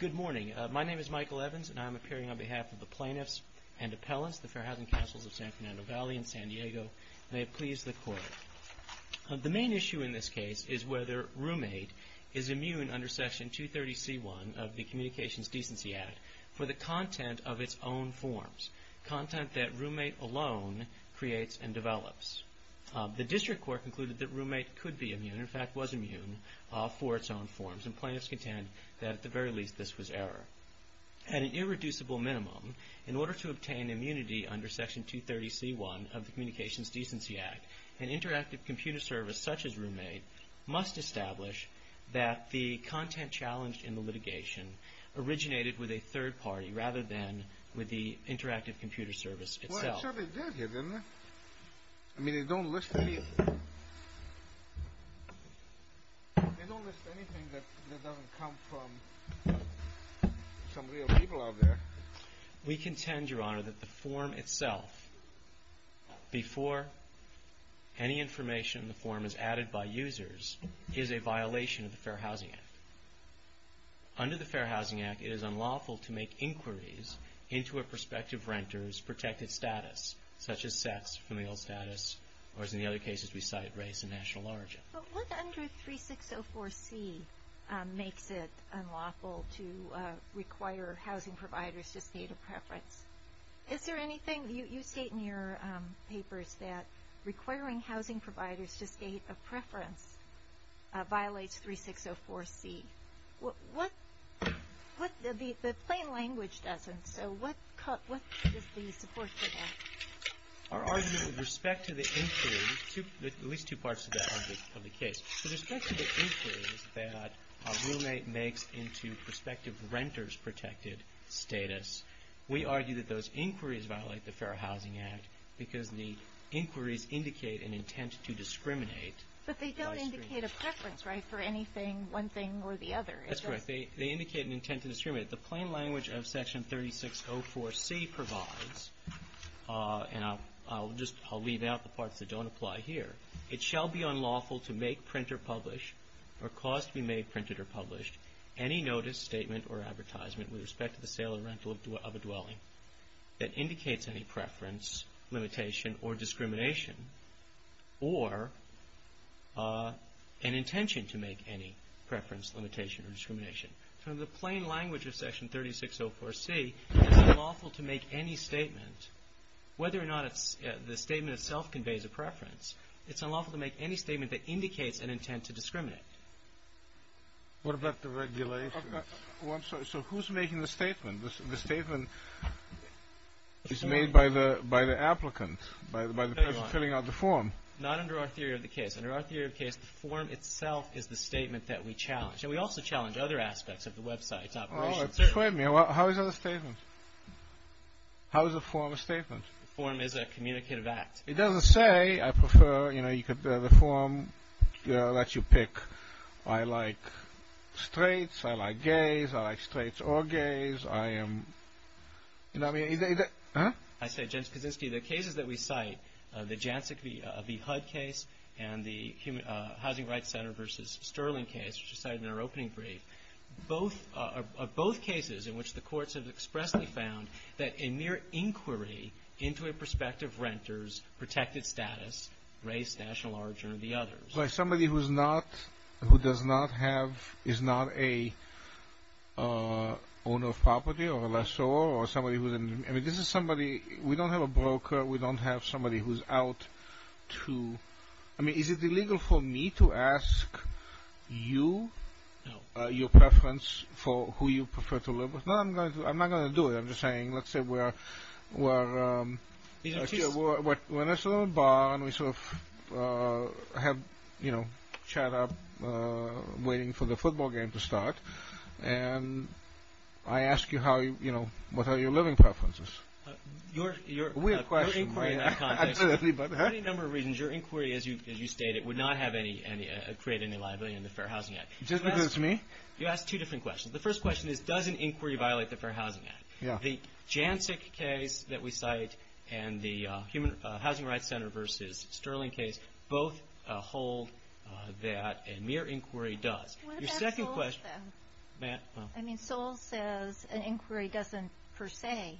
Good morning. My name is Michael Evans and I am appearing on behalf of the Plaintiffs and Appellants, the Fair Housing Councils of San Fernando Valley and San Diego. May it please the Court. The main issue in this case is whether Roommate is immune under Section 230c1 of the Communications Decency Act for the content of its own forms, content that Roommate alone creates and develops. The District Court concluded that Roommate could be immune, in fact was immune, for its own forms. And plaintiffs contend that at the very least this was error. At an irreducible minimum, in order to obtain immunity under Section 230c1 of the Communications Decency Act, an interactive computer service such as Roommate must establish that the content challenged in the litigation originated with a third party rather than with the interactive computer service itself. Well, it certainly did here, didn't it? I mean, they don't list anything that doesn't come from some real people out there. We contend, Your Honor, that the form itself, before any information in the form is added by users, is a violation of the Fair Housing Act. Under the Fair Housing Act, it is unlawful to make inquiries into a prospective renter's protected status, such as sex, familial status, or as in the other cases we cite race and national origin. But what under 3604c makes it unlawful to require housing providers to state a preference? Is there anything you state in your papers that requiring housing providers to state a preference violates 3604c? The plain language doesn't, so what is the support for that? Our argument with respect to the inquiry, at least two parts of the case, with respect to the inquiry that Roommate makes into prospective renter's protected status, we argue that those inquiries violate the Fair Housing Act because the inquiries indicate an intent to discriminate. But they don't indicate a preference, right, for anything, one thing or the other. That's right. They indicate an intent to discriminate. The plain language of section 3604c provides, and I'll just leave out the parts that don't apply here, it shall be unlawful to make, print, or publish, or cause to be made, printed, or published, any notice, statement, or advertisement with respect to the sale or rental of a dwelling that indicates any preference, limitation, or discrimination, or an intention to make any preference, limitation, or discrimination. So in the plain language of section 3604c, it's unlawful to make any statement, whether or not the statement itself conveys a preference, it's unlawful to make any statement that indicates an intent to discriminate. What about the regulation? Oh, I'm sorry. So who's making the statement? The statement is made by the applicant, by the person filling out the form. Not under our theory of the case. Under our theory of the case, the form itself is the statement that we challenge. And we also challenge other aspects of the website's operations. Oh, explain to me. How is that a statement? How is a form a statement? A form is a communicative act. It doesn't say, I prefer, you know, the form that you pick. I like straights, I like gays, I like straights or gays, I am, you know what I mean? I say, Jens Kaczynski, the cases that we cite, the Jancic v. Hudd case and the Housing Rights Center v. Sterling case, which was cited in our opening brief, are both cases in which the courts have expressly found that in mere inquiry into a prospective renter's protected status, race, national origin, or the others. Somebody who is not, who does not have, is not a owner of property or a lessor or somebody who is, I mean, this is somebody, we don't have a broker, we don't have somebody who is out to, I mean, is it illegal for me to ask you your preference for who you prefer to live with? I'm not going to do it, I'm just saying, let's say we're in a bar and we sort of have, you know, chat up waiting for the football game to start and I ask you how, you know, what are your living preferences? Your inquiry in that context, for any number of reasons, your inquiry, as you stated, would not have any, create any liability in the Fair Housing Act. Just because it's me? You asked two different questions. The first question is, does an inquiry violate the Fair Housing Act? Yeah. The Jancic case that we cite and the Human Housing Rights Center versus Sterling case both hold that a mere inquiry does. Your second question. What about Soel says? I mean, Soel says an inquiry doesn't per se.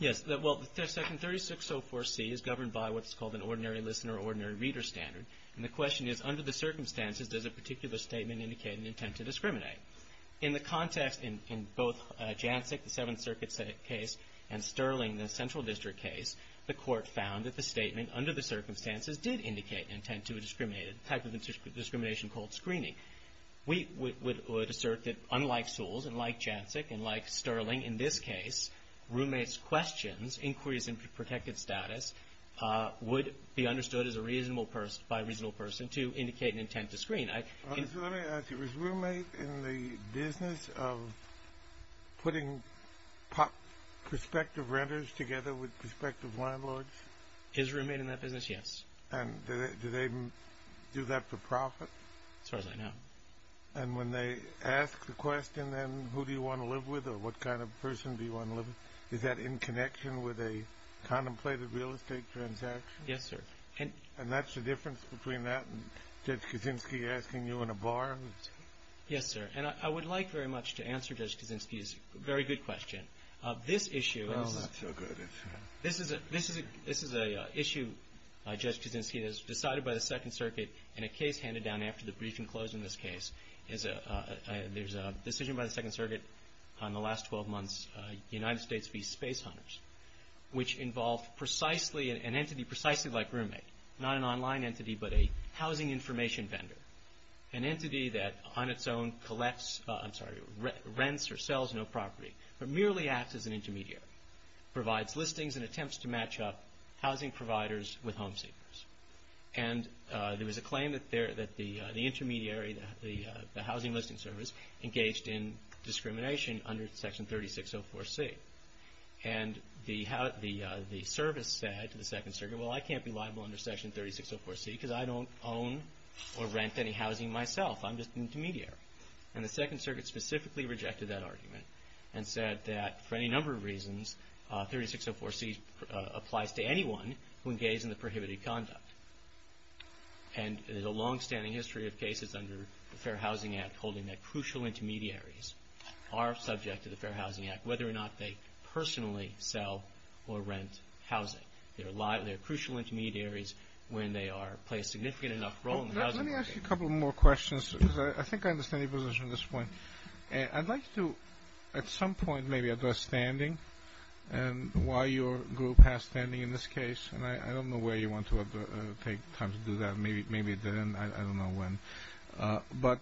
Yes, well, Section 3604C is governed by what's called an ordinary listener, ordinary reader standard. And the question is, under the circumstances, does a particular statement indicate an intent to discriminate? In the context in both Jancic, the Seventh Circuit case, and Sterling, the Central District case, the Court found that the statement under the circumstances did indicate an intent to discriminate, a type of discrimination called screening. We would assert that unlike Soel's and like Jancic and like Sterling in this case, roommates' questions, inquiries into protected status would be understood as a reasonable person, Let me ask you, was Roommate in the business of putting prospective renters together with prospective landlords? Is Roommate in that business? Yes. And do they do that for profit? As far as I know. And when they ask the question then, who do you want to live with or what kind of person do you want to live with, is that in connection with a contemplated real estate transaction? Yes, sir. And that's the difference between that and Judge Kuczynski asking you in a bar? Yes, sir. And I would like very much to answer Judge Kuczynski's very good question. This issue is. Oh, not so good. This is an issue, Judge Kuczynski, that was decided by the Second Circuit in a case handed down after the briefing closed in this case. There's a decision by the Second Circuit on the last 12 months, United States v. Space Hunters, which involved an entity precisely like Roommate. Not an online entity, but a housing information vendor. An entity that on its own collects, I'm sorry, rents or sells no property, but merely acts as an intermediary. Provides listings and attempts to match up housing providers with home seekers. And there was a claim that the intermediary, the housing listing service, engaged in discrimination under Section 3604C. And the service said to the Second Circuit, well, I can't be liable under Section 3604C because I don't own or rent any housing myself. I'm just an intermediary. And the Second Circuit specifically rejected that argument and said that for any number of reasons 3604C applies to anyone who engages in the prohibited conduct. And there's a longstanding history of cases under the Fair Housing Act holding that crucial intermediaries are subject to the Fair Housing Act, whether or not they personally sell or rent housing. They're crucial intermediaries when they play a significant enough role in the housing market. Let me ask you a couple more questions because I think I understand your position at this point. I'd like to at some point maybe address standing and why your group has standing in this case. And I don't know where you want to take time to do that. Maybe then, I don't know when. But,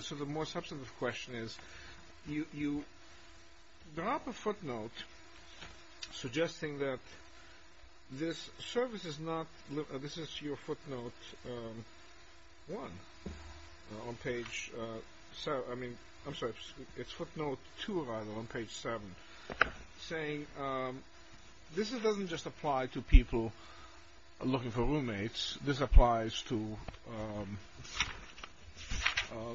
so the more substantive question is, you drop a footnote suggesting that this service is not, this is your footnote one on page, I mean, I'm sorry, it's footnote two on page seven, saying this doesn't just apply to people looking for roommates, this applies to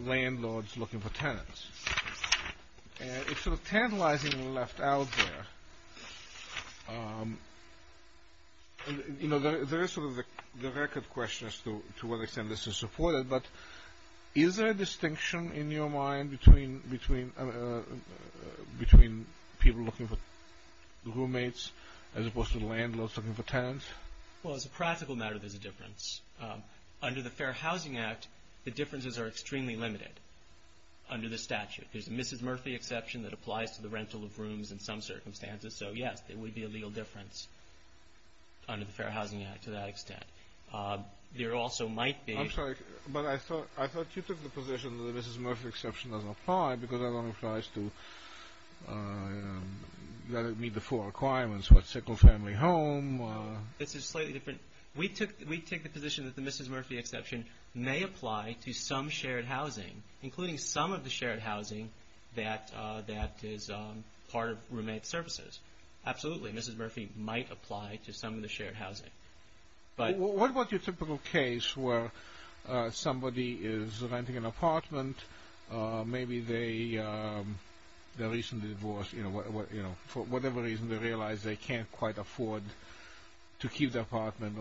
landlords looking for tenants. And it's sort of tantalizingly left out there. You know, there is sort of the record question as to what extent this is supported, but is there a distinction in your mind between people looking for roommates as opposed to landlords looking for tenants? Well, as a practical matter, there's a difference. Under the Fair Housing Act, the differences are extremely limited under the statute. There's a Mrs. Murphy exception that applies to the rental of rooms in some circumstances, so yes, there would be a legal difference under the Fair Housing Act to that extent. There also might be. I'm sorry, but I thought you took the position that the Mrs. Murphy exception doesn't apply, because that only applies to, let it meet the four requirements, what, single family home. This is slightly different. We take the position that the Mrs. Murphy exception may apply to some shared housing, including some of the shared housing that is part of roommate services. Absolutely, Mrs. Murphy might apply to some of the shared housing. What about your typical case where somebody is renting an apartment, maybe they recently divorced, for whatever reason they realize they can't quite afford to keep the apartment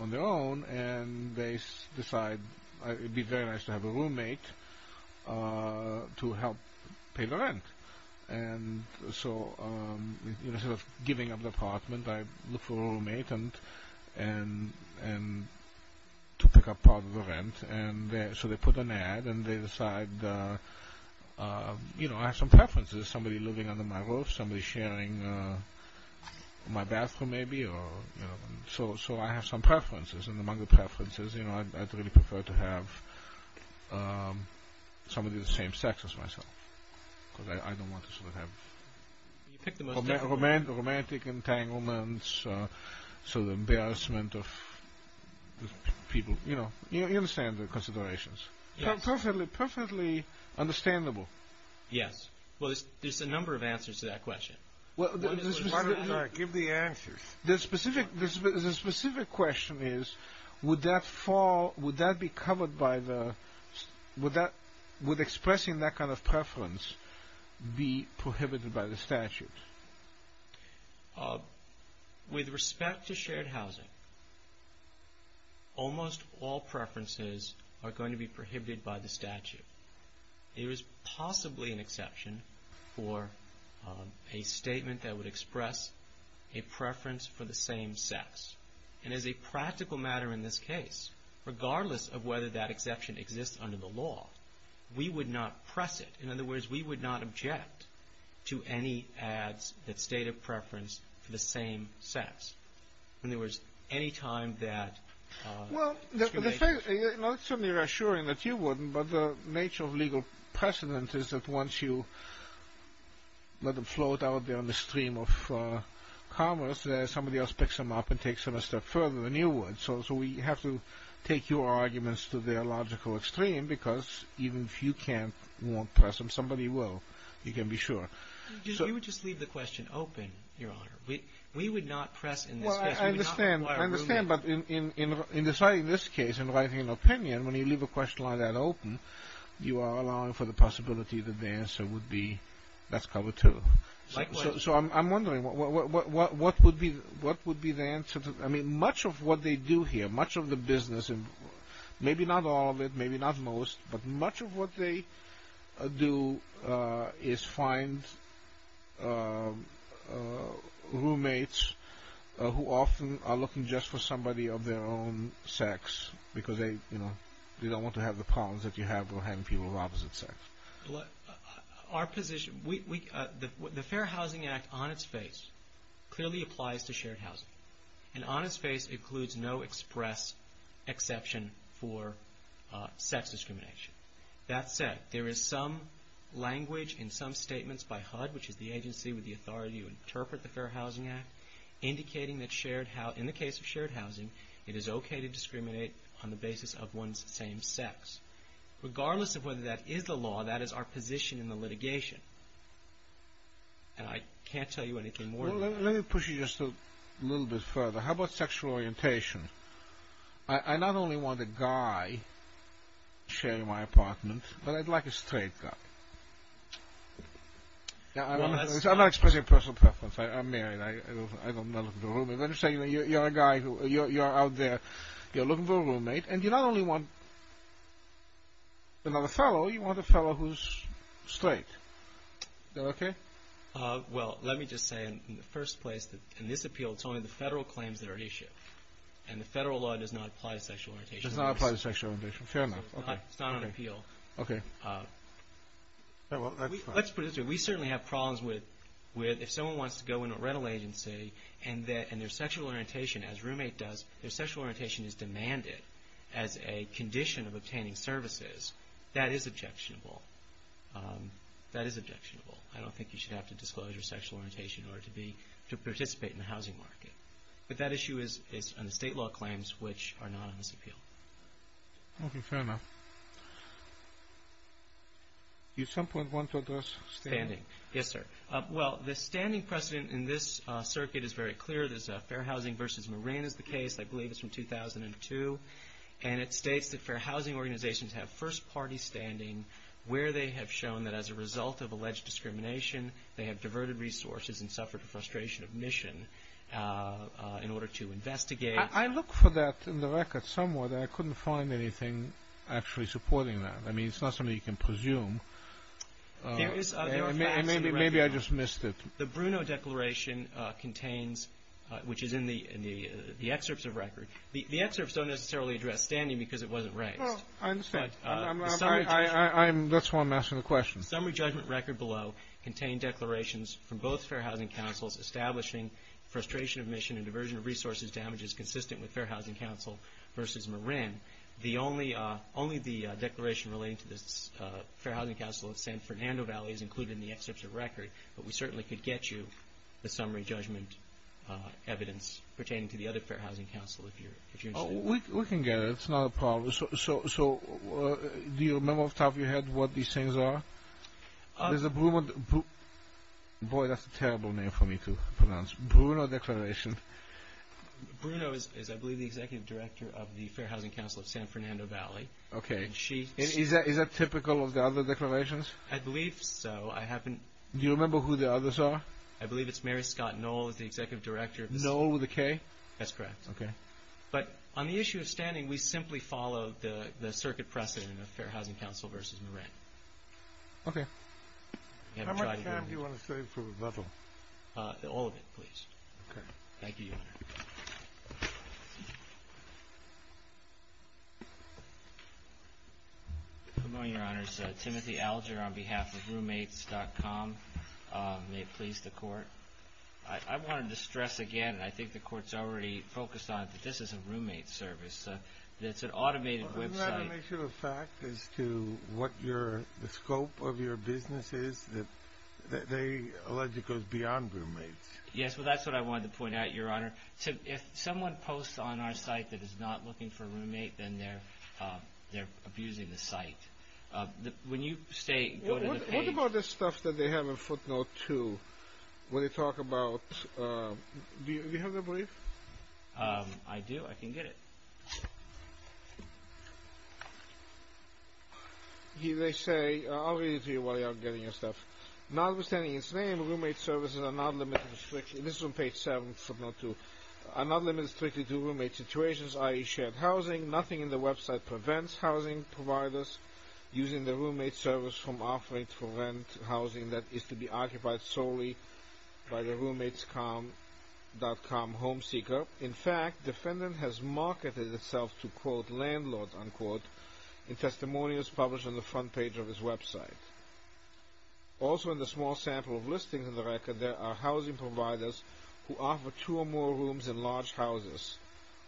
on their own, and they decide it would be very nice to have a roommate to help pay the rent? So instead of giving up the apartment, I look for a roommate to pick up part of the rent. So they put an ad, and they decide, you know, I have some preferences, somebody living under my roof, somebody sharing my bathroom maybe, so I have some preferences, and among the preferences, you know, I'd really prefer to have somebody the same sex as myself, because I don't want to sort of have romantic entanglements, sort of embarrassment of people. You know, you understand the considerations. Perfectly, perfectly understandable. Yes. Well, there's a number of answers to that question. Give the answers. The specific question is, would expressing that kind of preference be prohibited by the statute? With respect to shared housing, almost all preferences are going to be prohibited by the statute. There is possibly an exception for a statement that would express a preference for the same sex. And as a practical matter in this case, regardless of whether that exception exists under the law, we would not press it. In other words, we would not object to any ads that state a preference for the same sex. When there was any time that… Well, certainly you're assuring that you wouldn't, but the nature of legal precedent is that once you let them float out there on the stream of commerce, somebody else picks them up and takes them a step further than you would. So we have to take your arguments to their logical extreme, because even if you can't press them, somebody will. You can be sure. You would just leave the question open, Your Honor. We would not press in this case. I understand, but in deciding this case and writing an opinion, when you leave a question like that open, you are allowing for the possibility that the answer would be, let's cover two. So I'm wondering, what would be the answer? I mean, much of what they do here, much of the business, maybe not all of it, maybe not most, but much of what they do is find roommates who often are looking just for somebody of their own sex, because they don't want to have the problems that you have with having people of opposite sex. Our position, the Fair Housing Act on its face clearly applies to shared housing, and on its face includes no express exception for sex discrimination. That said, there is some language in some statements by HUD, which is the agency with the authority to interpret the Fair Housing Act, indicating that in the case of shared housing, it is okay to discriminate on the basis of one's same sex. Regardless of whether that is the law, that is our position in the litigation, and I can't tell you anything more than that. Let me push you just a little bit further. How about sexual orientation? I not only want a guy sharing my apartment, but I'd like a straight guy. I'm not expressing personal preference. I'm married. I'm not looking for a roommate. I'm just saying, you're a guy, you're out there, you're looking for a roommate, and you not only want another fellow, you want a fellow who's straight. Is that okay? Well, let me just say in the first place that in this appeal, it's only the federal claims that are at issue, and the federal law does not apply to sexual orientation. It does not apply to sexual orientation. Fair enough. Okay. It's not on appeal. Okay. Let's put it this way. We certainly have problems with if someone wants to go into a rental agency, and their sexual orientation, as roommate does, their sexual orientation is demanded as a condition of obtaining services, that is objectionable. That is objectionable. I don't think you should have to disclose your sexual orientation in order to participate in the housing market. But that issue is on the state law claims, which are not on this appeal. Okay. Fair enough. Do you at some point want to address standing? Standing. Yes, sir. Well, the standing precedent in this circuit is very clear. There's Fair Housing v. Marin is the case. I believe it's from 2002. And it states that Fair Housing organizations have first-party standing where they have shown that as a result of alleged discrimination, they have diverted resources and suffered the frustration of mission in order to investigate. I looked for that in the record somewhere, but I couldn't find anything actually supporting that. I mean, it's not something you can presume. There are facts in the record. Maybe I just missed it. The Bruno Declaration contains, which is in the excerpts of record. The excerpts don't necessarily address standing because it wasn't raised. Well, I understand. That's why I'm asking the question. The summary judgment record below contained declarations from both Fair Housing Councils establishing frustration of mission and diversion of resources damages consistent with Fair Housing Council v. Marin. Only the declaration relating to the Fair Housing Council of San Fernando Valley is included in the excerpts of record. But we certainly could get you the summary judgment evidence pertaining to the other Fair Housing Council if you're interested. We can get it. It's not a problem. So do you remember off the top of your head what these things are? There's a Bruno Declaration. Bruno is, I believe, the Executive Director of the Fair Housing Council of San Fernando Valley. Okay. Is that typical of the other declarations? I believe so. Do you remember who the others are? I believe it's Mary Scott Knoll is the Executive Director. Knoll with a K? That's correct. Okay. But on the issue of standing, we simply follow the circuit precedent of Fair Housing Council v. Marin. Okay. How much time do you want to save for rebuttal? All of it, please. Okay. Thank you, Your Honor. Good morning, Your Honors. Timothy Alger on behalf of Roommates.com. May it please the Court. I wanted to stress again, and I think the Court's already focused on it, that this is a roommate service. It's an automated website. Well, isn't that an issue of fact as to what the scope of your business is? They allege it goes beyond roommates. Yes, well, that's what I wanted to point out, Your Honor. If someone posts on our site that is not looking for a roommate, then they're abusing the site. When you stay, go to the page. What about this stuff that they have in footnote 2 when they talk about, do you have that brief? I do. I can get it. They say, I'll read it to you while you're getting your stuff. Notwithstanding its name, roommate services are not limited to restrictions. This is on page 7, footnote 2. Are not limited strictly to roommate situations, i.e., shared housing. Nothing in the website prevents housing providers using the roommate service from offering for rent housing that is to be occupied solely by the Roommates.com home seeker. In fact, defendant has marketed itself to, quote, landlord, unquote, in testimonials published on the front page of his website. Also in the small sample of listings in the record, there are housing providers who offer two or more rooms in large houses,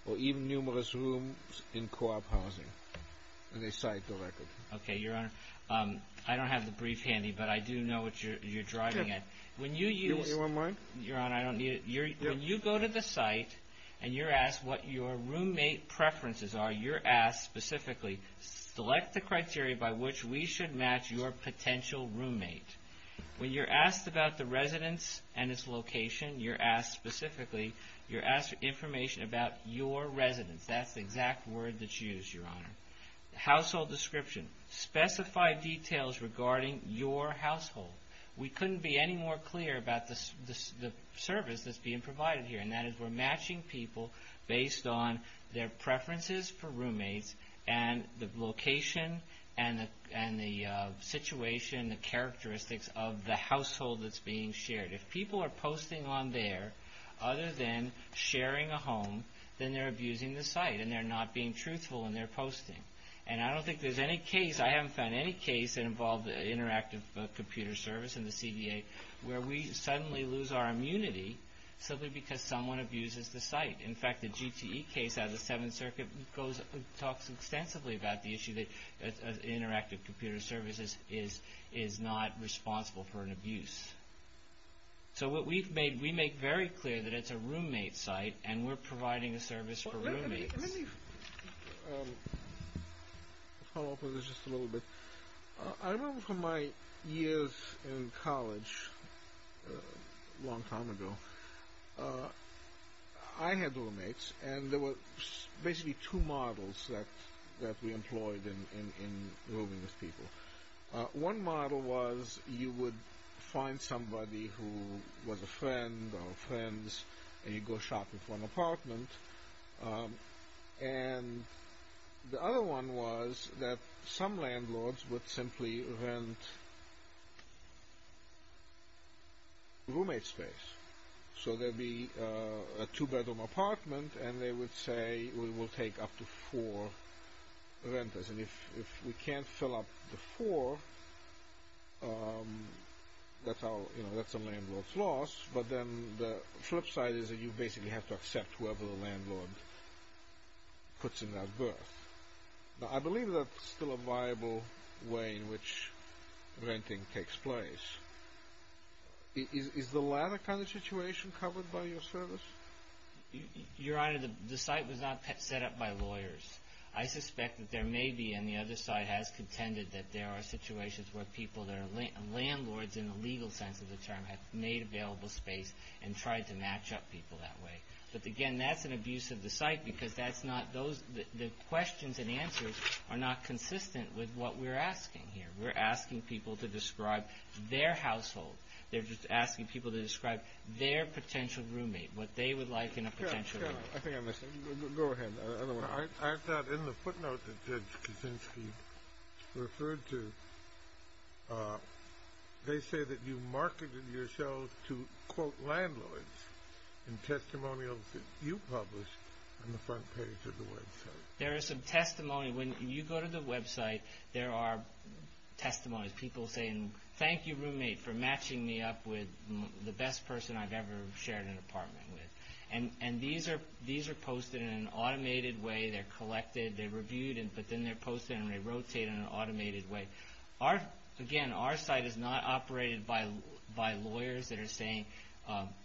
or even numerous rooms in co-op housing. And they cite the record. Okay, Your Honor. I don't have the brief handy, but I do know what you're driving at. Do you want mine? Your Honor, I don't need it. When you go to the site and you're asked what your roommate preferences are, you're asked specifically, select the criteria by which we should match your potential roommate. When you're asked about the residence and its location, you're asked specifically, you're asked information about your residence. That's the exact word that's used, Your Honor. Household description. Specify details regarding your household. We couldn't be any more clear about the service that's being provided here, and that is we're matching people based on their preferences for roommates and the location and the situation, the characteristics of the household that's being shared. If people are posting on there other than sharing a home, then they're abusing the site and they're not being truthful in their posting. And I don't think there's any case, I haven't found any case that involved interactive computer service in the CDA where we suddenly lose our immunity simply because someone abuses the site. In fact, the GTE case out of the Seventh Circuit talks extensively about the issue that interactive computer services is not responsible for an abuse. So what we've made, we make very clear that it's a roommate site and we're providing a service for roommates. Let me follow up with this just a little bit. I remember from my years in college a long time ago, I had roommates and there were basically two models that we employed in living with people. One model was you would find somebody who was a friend or friends and you'd go shopping for an apartment. And the other one was that some landlords would simply rent roommate space. So there'd be a two-bedroom apartment and they would say, we will take up to four renters. And if we can't fill up the four, that's a landlord's loss. But then the flip side is that you basically have to accept whoever the landlord puts in that berth. Now, I believe that's still a viable way in which renting takes place. Is the latter kind of situation covered by your service? Your Honor, the site was not set up by lawyers. I suspect that there may be, and the other side has contended, that there are situations where people, there are landlords in the legal sense of the term, have made available space and tried to match up people that way. But again, that's an abuse of the site because that's not, the questions and answers are not consistent with what we're asking here. We're asking people to describe their household. They're just asking people to describe their potential roommate, what they would like in a potential roommate. I think I missed something. Go ahead. I thought in the footnote that Judge Kuczynski referred to, they say that you marketed your show to, quote, landlords in testimonials that you published on the front page of the website. There is some testimony. When you go to the website, there are testimonies, people saying, thank you, roommate, for matching me up with the best person I've ever shared an apartment with. And these are posted in an automated way. They're collected. They're reviewed, but then they're posted and they rotate in an automated way. Again, our site is not operated by lawyers that are saying,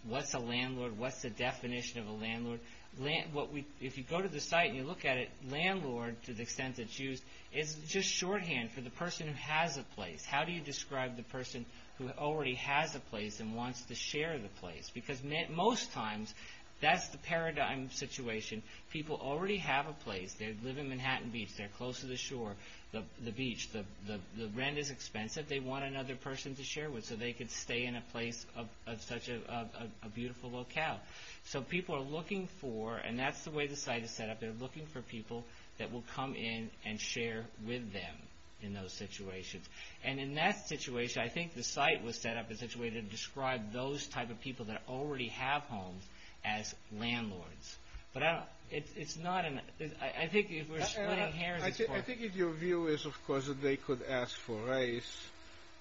what's a landlord? What's the definition of a landlord? If you go to the site and you look at it, landlord, to the extent it's used, is just shorthand for the person who has a place. How do you describe the person who already has a place and wants to share the place? Because most times, that's the paradigm situation. People already have a place. They live in Manhattan Beach. They're close to the shore, the beach. The rent is expensive. They want another person to share with so they can stay in a place of such a beautiful locale. So people are looking for, and that's the way the site is set up, they're looking for people that will come in and share with them in those situations. And in that situation, I think the site was set up in such a way to describe those type of people that already have homes as landlords. But it's not an – I think if we're splitting hairs, it's hard. I think your view is, of course, that they could ask for race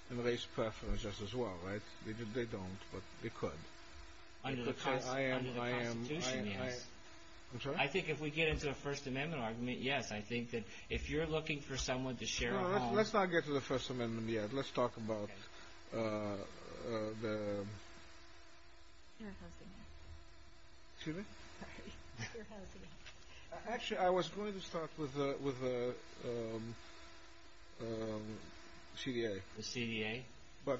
and race preferences as well, right? They don't, but they could. Under the Constitution, yes. I'm sorry? I think if we get into a First Amendment argument, yes. I think that if you're looking for someone to share a home – No, let's not get to the First Amendment yet. Let's talk about the – Fair Housing Act. Excuse me? Sorry. Fair Housing Act. Actually, I was going to start with the CDA. The CDA? But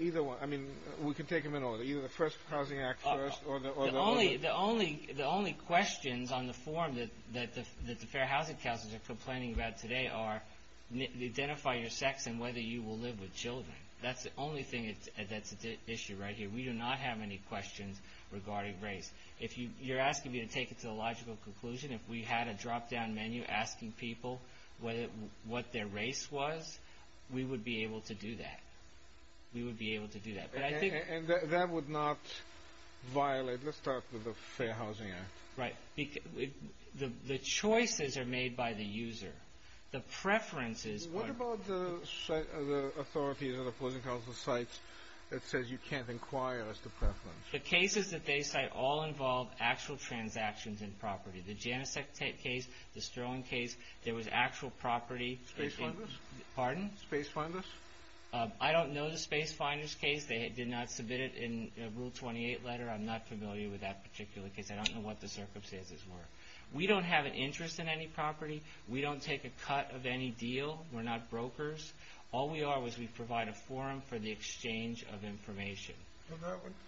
either one – I mean, we can take them in order. Either the First Housing Act first or the – The only questions on the form that the Fair Housing Councils are complaining about today are identify your sex and whether you will live with children. That's the only thing that's at issue right here. We do not have any questions regarding race. If you're asking me to take it to a logical conclusion, if we had a drop-down menu asking people what their race was, we would be able to do that. We would be able to do that. And that would not violate – let's start with the Fair Housing Act. Right. The choices are made by the user. The preferences are – What about the authorities or the policing council sites that says you can't inquire as to preference? The cases that they cite all involve actual transactions in property. The Janicek case, the Sterling case, there was actual property – Space Finders? Pardon? Space Finders? I don't know the Space Finders case. They did not submit it in Rule 28 letter. I'm not familiar with that particular case. I don't know what the circumstances were. We don't have an interest in any property. We don't take a cut of any deal. We're not brokers. All we are is we provide a forum for the exchange of information.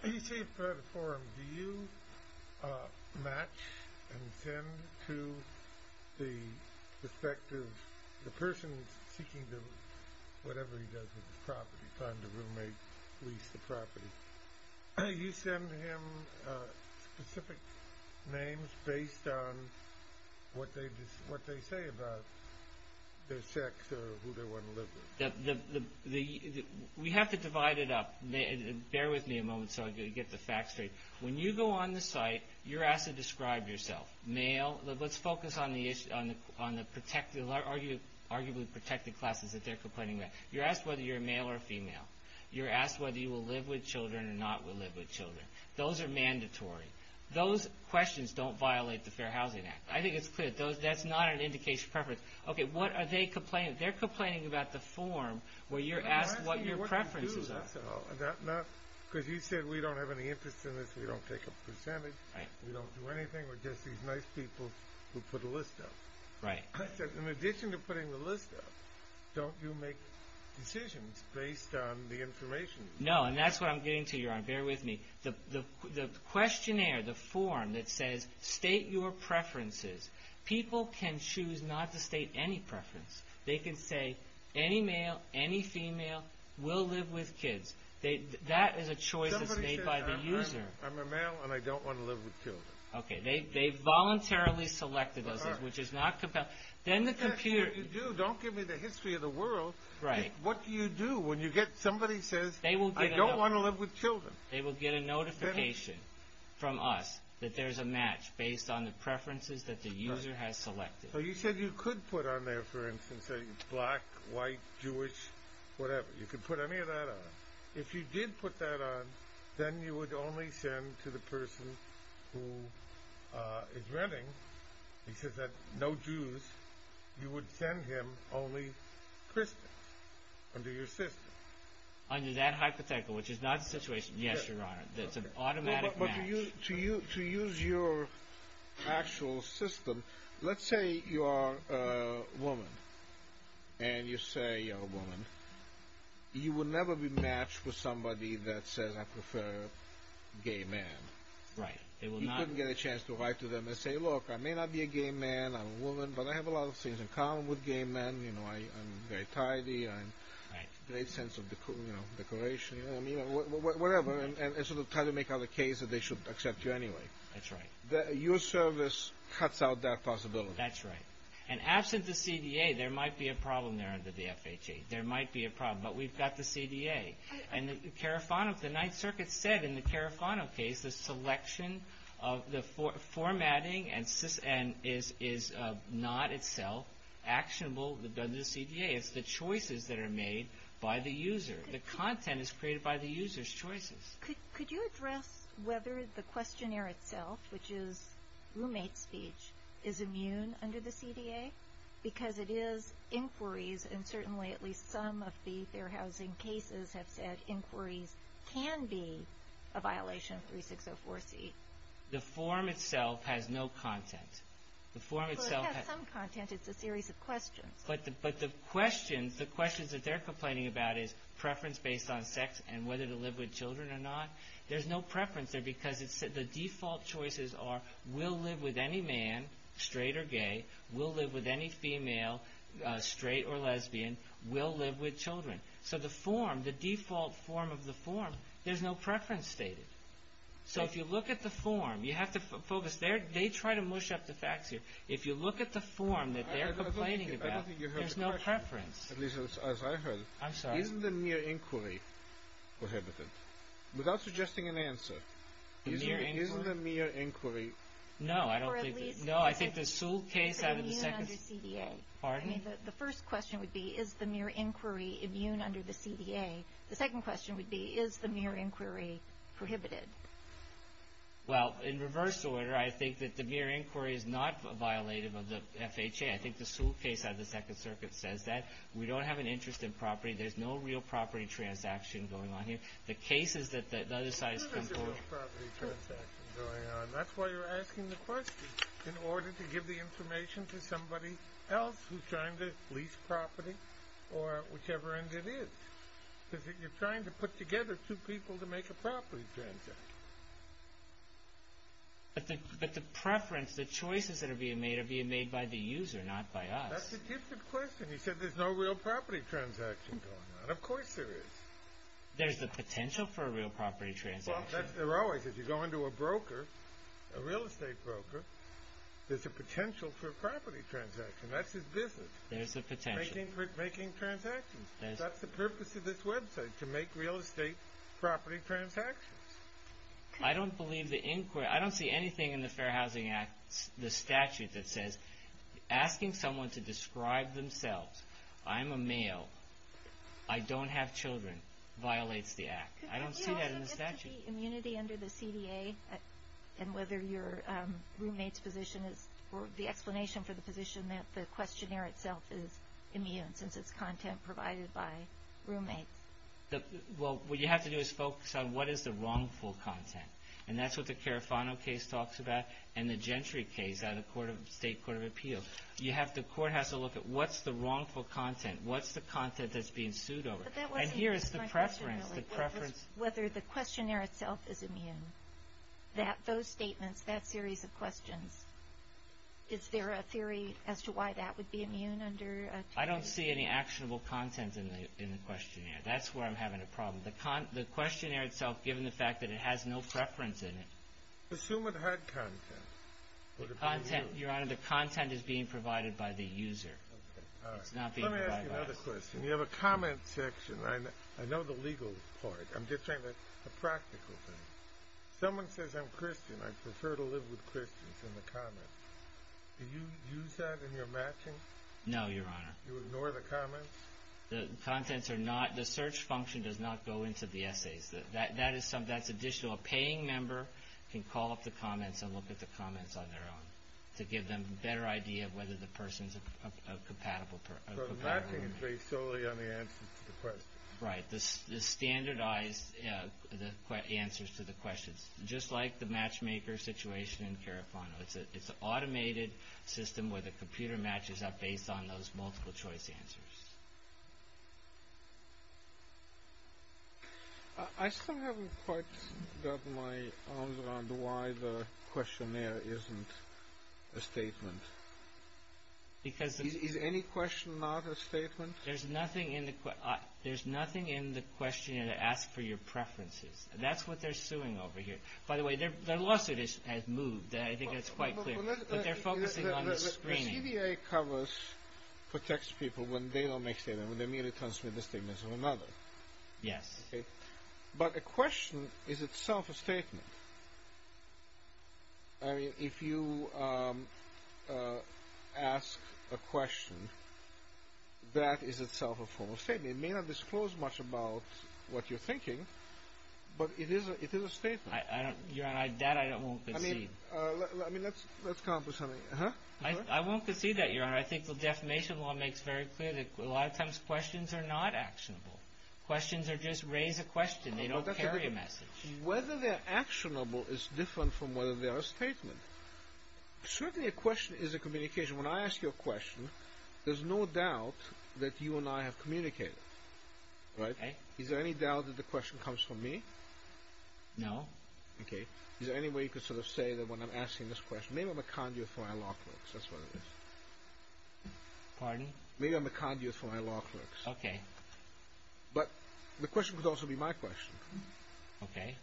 When you say provide a forum, do you match and send to the perspective – the person seeking to – whatever he does with his property, find a roommate, lease the property. Do you send him specific names based on what they say about their sex or who they want to live with? We have to divide it up. Bear with me a moment so I can get the facts straight. When you go on the site, you're asked to describe yourself. Male. Let's focus on the arguably protected classes that they're complaining about. You're asked whether you're a male or a female. You're asked whether you will live with children or not will live with children. Those are mandatory. Those questions don't violate the Fair Housing Act. I think it's clear. That's not an indication of preference. Okay, what are they complaining? They're complaining about the forum where you're asked what your preferences are. Because you said we don't have any interest in this. We don't take a percentage. We don't do anything. We're just these nice people who put a list up. Right. In addition to putting the list up, don't you make decisions based on the information? No, and that's what I'm getting to, Your Honor. Bear with me. The questionnaire, the forum that says state your preferences. People can choose not to state any preference. They can say any male, any female will live with kids. That is a choice that's made by the user. Somebody says I'm a male and I don't want to live with children. Okay, they voluntarily selected those things, which is not compelling. Then the computer What do you do? Don't give me the history of the world. Right. What do you do when somebody says I don't want to live with children? They will get a notification from us that there's a match based on the preferences that the user has selected. So you said you could put on there, for instance, say black, white, Jewish, whatever. You could put any of that on. If you did put that on, then you would only send to the person who is renting. He says that no Jews. You would send him only Christians under your system. Under that hypothetical, which is not the situation. Yes, Your Honor. It's an automatic match. To use your actual system, let's say you are a woman. And you say you're a woman. You would never be matched with somebody that says I prefer gay men. Right. You couldn't get a chance to write to them and say, look, I may not be a gay man, I'm a woman, but I have a lot of things in common with gay men. I'm very tidy. I have a great sense of decoration. You know what I mean? Whatever. And sort of try to make out a case that they should accept you anyway. That's right. Your service cuts out that possibility. That's right. And absent the CDA, there might be a problem there under the FHA. There might be a problem. But we've got the CDA. The Ninth Circuit said in the Carafano case the selection of the formatting is not itself actionable under the CDA. It's the choices that are made by the user. The content is created by the user's choices. Could you address whether the questionnaire itself, which is roommate speech, is immune under the CDA? Because it is inquiries, and certainly at least some of the Fair Housing cases have said inquiries can be a violation of 3604C. The form itself has no content. Well, it has some content. It's a series of questions. But the questions that they're complaining about is preference based on sex and whether to live with children or not. There's no preference there because the default choices are we'll live with any man, straight or gay, we'll live with any female, straight or lesbian, we'll live with children. So the form, the default form of the form, there's no preference stated. So if you look at the form, you have to focus. They try to mush up the facts here. If you look at the form that they're complaining about, there's no preference. At least as I heard. I'm sorry. Isn't the mere inquiry prohibited? Without suggesting an answer. The mere inquiry? Isn't the mere inquiry? No, I don't think. Or at least. No, I think the Sewell case out of the second. Immune under CDA. Pardon? I mean, the first question would be is the mere inquiry immune under the CDA? The second question would be is the mere inquiry prohibited? Well, in reverse order, I think that the mere inquiry is not a violative of the FHA. I think the Sewell case out of the second circuit says that. We don't have an interest in property. There's no real property transaction going on here. The cases that the other side's concluded. There's no real property transaction going on. That's why you're asking the question in order to give the information to somebody else who's trying to lease property or whichever end it is. Because you're trying to put together two people to make a property transaction. But the preference, the choices that are being made are being made by the user, not by us. That's a different question. You said there's no real property transaction going on. Of course there is. There's the potential for a real property transaction. Well, there always is. You go into a broker, a real estate broker, there's a potential for a property transaction. That's his business. There's the potential. Making transactions. That's the purpose of this website, to make real estate property transactions. I don't believe the inquiry. I don't see anything in the Fair Housing Act, the statute, that says asking someone to describe themselves, I'm a male, I don't have children, violates the act. I don't see that in the statute. Could we also look at the immunity under the CDA and whether your roommate's position is, or the explanation for the position that the questionnaire itself is immune since it's content provided by roommates? Well, what you have to do is focus on what is the wrongful content, and that's what the Carafano case talks about and the Gentry case out of the State Court of Appeals. The court has to look at what's the wrongful content, what's the content that's being sued over. And here is the preference. Whether the questionnaire itself is immune, those statements, that series of questions, is there a theory as to why that would be immune under a TCA? I don't see any actionable content in the questionnaire. That's where I'm having a problem. The questionnaire itself, given the fact that it has no preference in it. Assume it had content. Your Honor, the content is being provided by the user. It's not being provided by us. Let me ask you another question. You have a comment section. I know the legal part. I'm just saying that's a practical thing. Someone says, I'm Christian. I prefer to live with Christians in the comments. Do you use that in your matching? No, Your Honor. You ignore the comments? The contents are not, the search function does not go into the essays. That is additional. A paying member can call up the comments and look at the comments on their own to give them a better idea of whether the person is a compatible. So the matching is based solely on the answers to the questions. Right. The standardized answers to the questions. Just like the matchmaker situation in Carafano. It's an automated system where the computer matches up based on those multiple choice answers. I still haven't quite gotten my arms around why the questionnaire isn't a statement. Is any question not a statement? There's nothing in the questionnaire that asks for your preferences. That's what they're suing over here. By the way, their lawsuit has moved. I think that's quite clear. But they're focusing on the screen. The CDA covers for text people when they don't make statements, when they merely transmit the statements of another. Yes. But a question is itself a statement. I mean, if you ask a question, that is itself a formal statement. It may not disclose much about what you're thinking, but it is a statement. Your Honor, that I won't concede. I mean, let's come up with something. I won't concede that, Your Honor. I think the defamation law makes very clear that a lot of times questions are not actionable. They don't carry a message. Whether they're actionable is different from whether they are a statement. Certainly a question is a communication. When I ask you a question, there's no doubt that you and I have communicated. Okay. Is there any doubt that the question comes from me? No. Okay. Is there any way you could sort of say that when I'm asking this question, maybe I'm a conduit for my law clerks. That's what it is. Pardon? Maybe I'm a conduit for my law clerks. Okay. But the question could also be my question. Okay.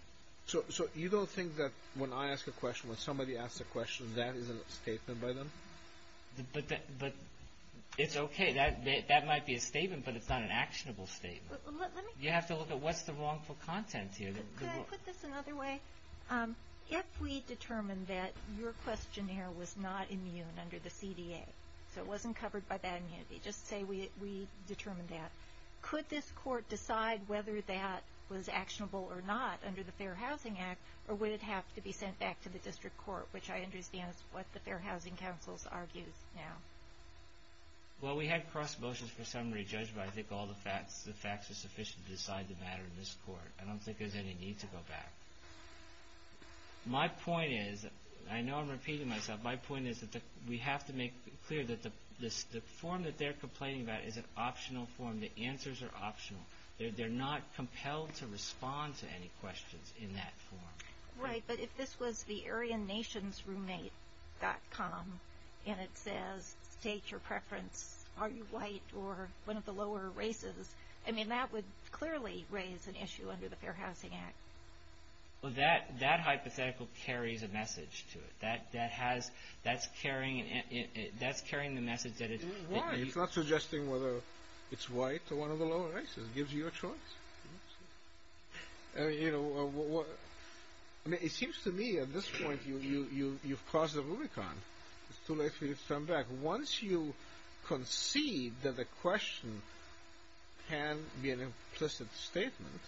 So you don't think that when I ask a question, when somebody asks a question, that is a statement by them? But it's okay. That might be a statement, but it's not an actionable statement. You have to look at what's the wrongful content here. Could I put this another way? If we determine that your questionnaire was not immune under the CDA, so it wasn't covered by that immunity, just say we determined that, could this court decide whether that was actionable or not under the Fair Housing Act, or would it have to be sent back to the district court, which I understand is what the Fair Housing Council argues now. Well, we had cross motions for summary judged, but I think all the facts are sufficient to decide the matter in this court. I don't think there's any need to go back. My point is, and I know I'm repeating myself, my point is that we have to make clear that the form that they're complaining about is an optional form. The answers are optional. They're not compelled to respond to any questions in that form. Right, but if this was the AryanNationsRoommate.com, and it says state your preference, are you white or one of the lower races, I mean that would clearly raise an issue under the Fair Housing Act. Well, that hypothetical carries a message to it. That's carrying the message. Why? It's not suggesting whether it's white or one of the lower races. It gives you a choice. You know, it seems to me at this point you've crossed the Rubicon. It's too late for you to turn back. Once you concede that the question can be an implicit statement,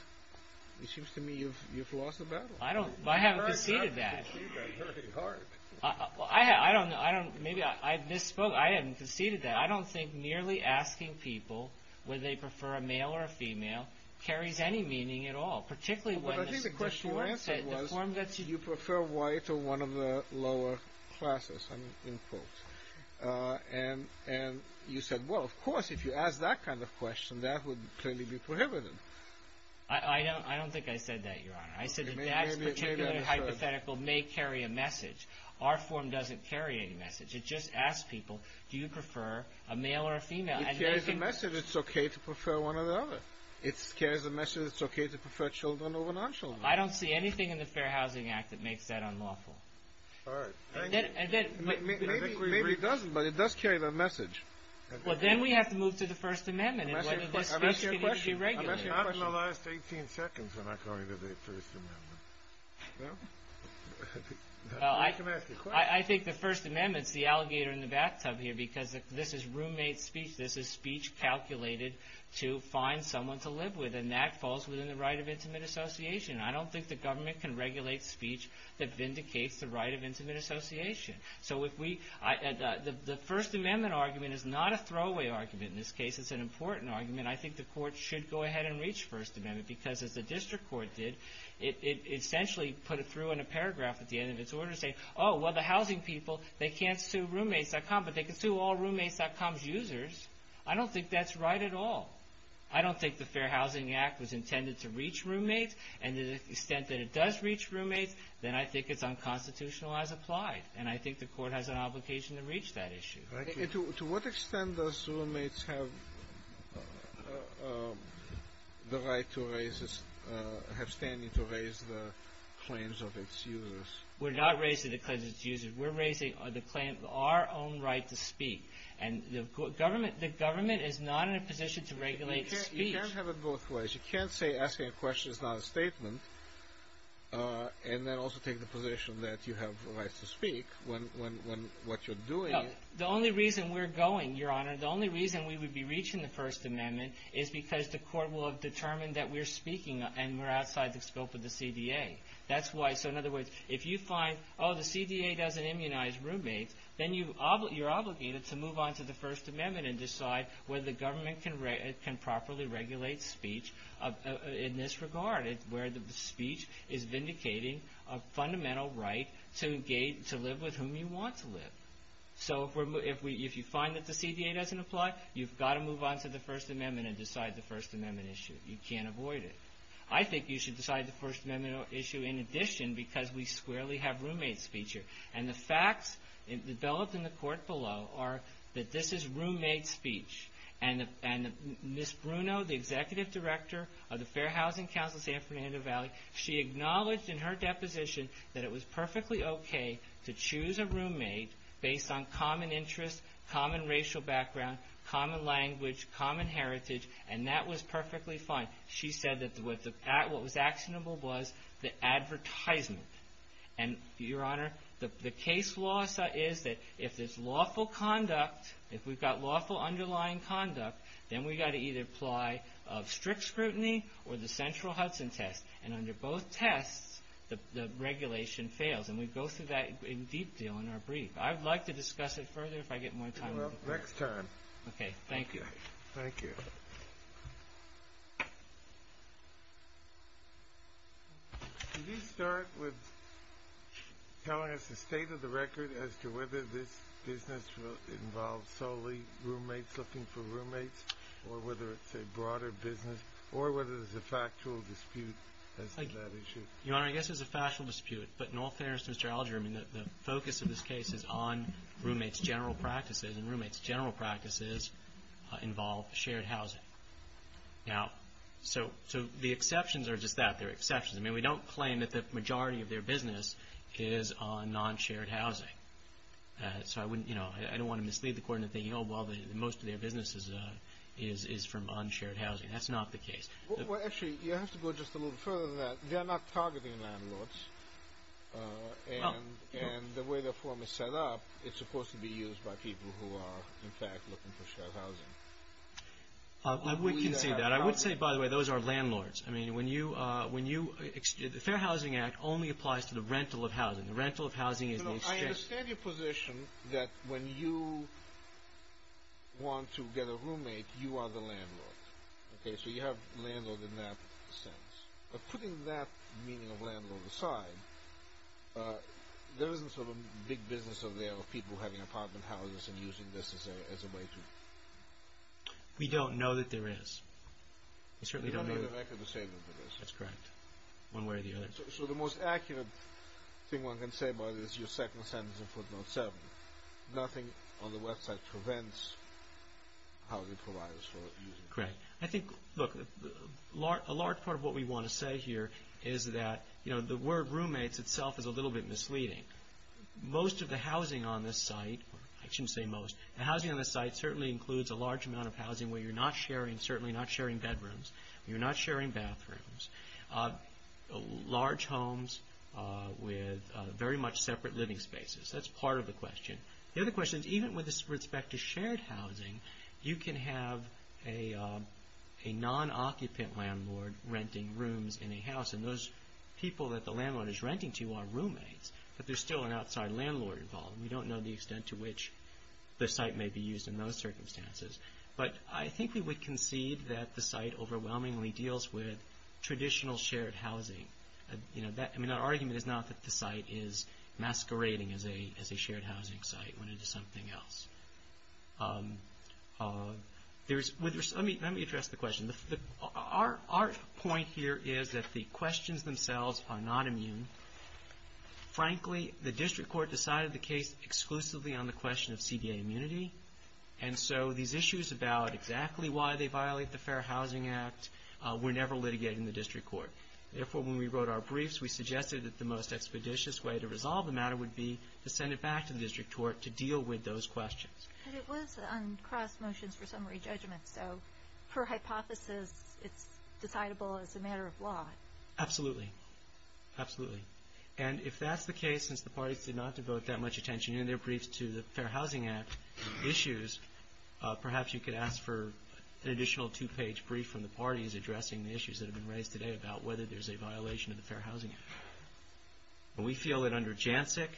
it seems to me you've lost the battle. I haven't conceded that. I don't know. Maybe I misspoke. I haven't conceded that. I don't think merely asking people whether they prefer a male or a female carries any meaning at all, particularly when the question you answered was you prefer white or one of the lower classes. And you said, well, of course, if you ask that kind of question, that would clearly be prohibited. I don't think I said that, Your Honor. I said that that particular hypothetical may carry a message. Our form doesn't carry any message. It just asks people, do you prefer a male or a female? It carries a message. It's okay to prefer one or the other. It carries a message. It's okay to prefer children over non-children. I don't see anything in the Fair Housing Act that makes that unlawful. All right. Maybe it doesn't, but it does carry that message. Well, then we have to move to the First Amendment and whether this message can be regulated. I'm asking a question. I'm asking a question. I'm asking a question. I'm asking a question. I'm asking a question. I'm asking a question. I'm asking a question. Well, I'm not the alligator in the bathtub here because this is roommate speech. This is speech calculated to find someone to live with, and that falls within the right of intimate association. I don't think the government can regulate speech that vindicates the right of intimate association. So if we – the First Amendment argument is not a throwaway argument in this case. It's an important argument. I think the court should go ahead and reach First Amendment because as the district court did, it essentially put it through in a paragraph at the end of its order saying, oh, well, the housing people, they can't sue roommates.com, but they can sue all roommates.com's users. I don't think that's right at all. I don't think the Fair Housing Act was intended to reach roommates, and to the extent that it does reach roommates, then I think it's unconstitutional as applied, and I think the court has an obligation to reach that issue. To what extent does roommates have the right to raise – have standing to raise the claims of its users? We're not raising the claims of its users. We're raising the claim of our own right to speak. And the government is not in a position to regulate speech. You can't have it both ways. You can't say asking a question is not a statement and then also take the position that you have the right to speak when what you're doing is – No. The only reason we're going, Your Honor, the only reason we would be reaching the First Amendment is because the court will have determined that we're speaking and we're outside the scope of the CDA. That's why – so in other words, if you find, oh, the CDA doesn't immunize roommates, then you're obligated to move on to the First Amendment and decide whether the government can properly regulate speech in this regard, where the speech is vindicating a fundamental right to live with whom you want to live. So if you find that the CDA doesn't apply, you've got to move on to the First Amendment and decide the First Amendment issue. You can't avoid it. I think you should decide the First Amendment issue in addition because we squarely have roommate speech here. And the facts developed in the court below are that this is roommate speech. And Ms. Bruno, the executive director of the Fair Housing Council of San Fernando Valley, she acknowledged in her deposition that it was perfectly okay to choose a roommate based on common interests, common racial background, common language, common heritage, and that was perfectly fine. She said that what was actionable was the advertisement. And, Your Honor, the case law is that if there's lawful conduct, if we've got lawful underlying conduct, then we've got to either apply strict scrutiny or the central Hudson test. And under both tests, the regulation fails. And we go through that in detail in our brief. I'd like to discuss it further if I get more time. Well, next time. Okay, thank you. Thank you. Could you start with telling us the state of the record as to whether this business involves solely roommates looking for roommates or whether it's a broader business or whether there's a factual dispute as to that issue? Your Honor, I guess there's a factual dispute. But in all fairness to Mr. Alger, the focus of this case is on roommates' general practices, and roommates' general practices involve shared housing. Now, so the exceptions are just that. They're exceptions. I mean, we don't claim that the majority of their business is on non-shared housing. So I wouldn't, you know, I don't want to mislead the Court into thinking, oh, well, most of their business is from unshared housing. That's not the case. Well, actually, you have to go just a little further than that. They are not targeting landlords. And the way their form is set up, it's supposed to be used by people who are, in fact, looking for shared housing. I would concede that. I would say, by the way, those are landlords. I mean, when you, the Fair Housing Act only applies to the rental of housing. The rental of housing is the exchange. I understand your position that when you want to get a roommate, you are the landlord. Okay, so you have landlord in that sense. But putting that meaning of landlord aside, there isn't sort of a big business out there of people having apartment houses and using this as a way to… We don't know that there is. We certainly don't know. We don't know the record to say that there is. That's correct. One way or the other. So the most accurate thing one can say about it is your second sentence in footnote 7. Nothing on the website prevents housing providers from using it. Correct. I think, look, a large part of what we want to say here is that, you know, the word roommates itself is a little bit misleading. Most of the housing on this site, I shouldn't say most, the housing on this site certainly includes a large amount of housing where you're not sharing, certainly not sharing bedrooms, you're not sharing bathrooms, large homes with very much separate living spaces. That's part of the question. The other question is even with respect to shared housing, you can have a non-occupant landlord renting rooms in a house and those people that the landlord is renting to are roommates. But there's still an outside landlord involved. We don't know the extent to which the site may be used in those circumstances. But I think we would concede that the site overwhelmingly deals with traditional shared housing. I mean, our argument is not that the site is masquerading as a shared housing site when it is something else. Let me address the question. Our point here is that the questions themselves are not immune. Frankly, the district court decided the case exclusively on the question of CDA immunity, and so these issues about exactly why they violate the Fair Housing Act were never litigated in the district court. Therefore, when we wrote our briefs, we suggested that the most expeditious way to resolve the matter would be to send it back to the district court to deal with those questions. But it was on cross motions for summary judgment, so per hypothesis it's decidable as a matter of law. Absolutely, absolutely. And if that's the case, since the parties did not devote that much attention in their briefs to the Fair Housing Act issues, perhaps you could ask for an additional two-page brief from the parties addressing the issues that have been raised today about whether there's a violation of the Fair Housing Act. And we feel that under Jancic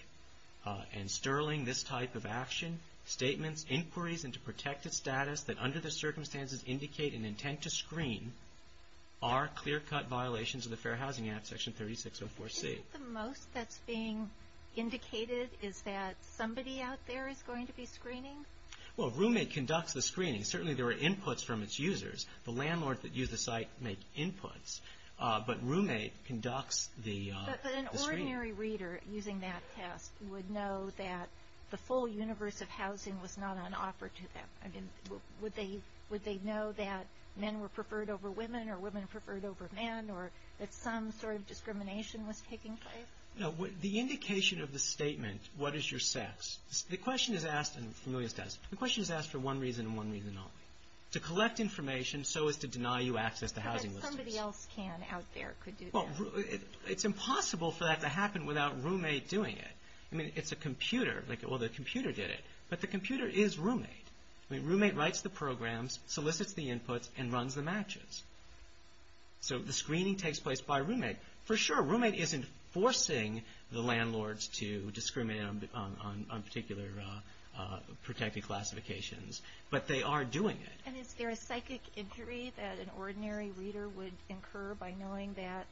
and Sterling, this type of action, statements, inquiries into protected status that under the circumstances indicate and intend to screen are clear-cut violations of the Fair Housing Act, Section 3604C. I think the most that's being indicated is that somebody out there is going to be screening? Well, a roommate conducts the screening. Certainly there are inputs from its users. The landlord that used the site made inputs, but roommate conducts the screening. But an ordinary reader using that test would know that the full universe of housing was not on offer to them. I mean, would they know that men were preferred over women or women preferred over men or that some sort of discrimination was taking place? No. The indication of the statement, what is your sex, the question is asked for one reason and one reason only, to collect information so as to deny you access to housing listings. But somebody else can out there could do that. Well, it's impossible for that to happen without roommate doing it. I mean, it's a computer. Well, the computer did it, but the computer is roommate. I mean, roommate writes the programs, solicits the inputs, and runs the matches. So the screening takes place by roommate. For sure, roommate isn't forcing the landlords to discriminate on particular protected classifications, but they are doing it. And is there a psychic injury that an ordinary reader would incur by knowing that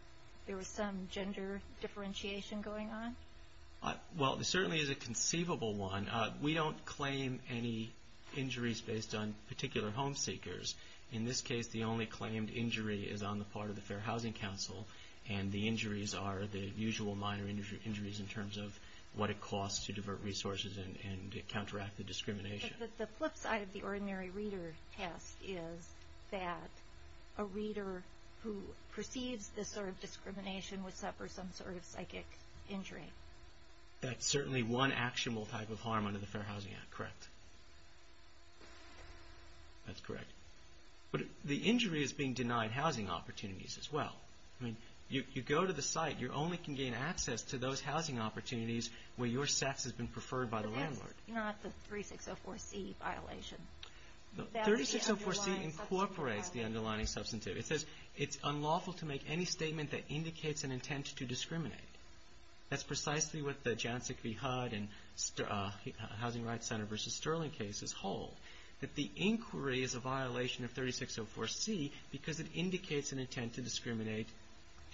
there was some gender differentiation going on? Well, there certainly is a conceivable one. We don't claim any injuries based on particular home seekers. In this case, the only claimed injury is on the part of the Fair Housing Council, and the injuries are the usual minor injuries in terms of what it costs to divert resources and counteract the discrimination. But the flip side of the ordinary reader test is that a reader who perceives this sort of discrimination would suffer some sort of psychic injury. That's certainly one actionable type of harm under the Fair Housing Act, correct? That's correct. But the injury is being denied housing opportunities as well. I mean, you go to the site, you only can gain access to those housing opportunities where your sex has been preferred by the landlord. But that's not the 3604C violation. 3604C incorporates the underlining substantive. It says it's unlawful to make any statement that indicates an intent to discriminate. That's precisely what the Janczyk v. Hudd and Housing Rights Center v. Sterling cases hold, that the inquiry is a violation of 3604C because it indicates an intent to discriminate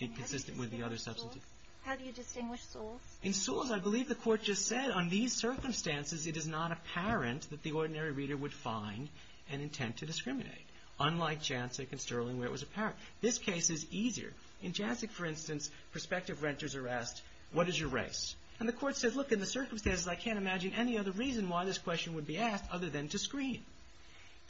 inconsistent with the other substantive. How do you distinguish Sewell's? In Sewell's, I believe the Court just said on these circumstances it is not apparent that the ordinary reader would find an intent to discriminate. Unlike Janczyk and Sterling, where it was apparent. This case is easier. In Janczyk, for instance, prospective renters are asked, what is your race? And the Court says, look, in the circumstances, I can't imagine any other reason why this question would be asked other than to screen.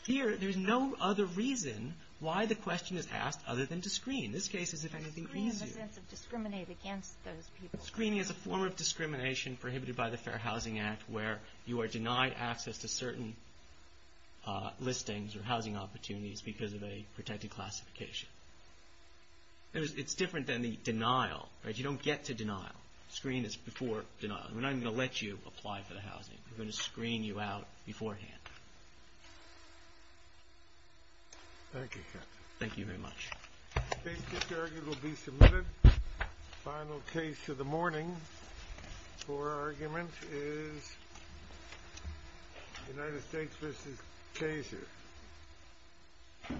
Here, there's no other reason why the question is asked other than to screen. This case is, if anything, easier. Screening in the sense of discriminate against those people. Screening is a form of discrimination prohibited by the Fair Housing Act where you are denied access to certain listings or housing opportunities because of a protected classification. It's different than the denial, right? You don't get to denial. Screen is before denial. We're not even going to let you apply for the housing. We're going to screen you out beforehand. Thank you, Captain. Thank you very much. This argument will be submitted. Final case of the morning for argument is United States v. Kaiser.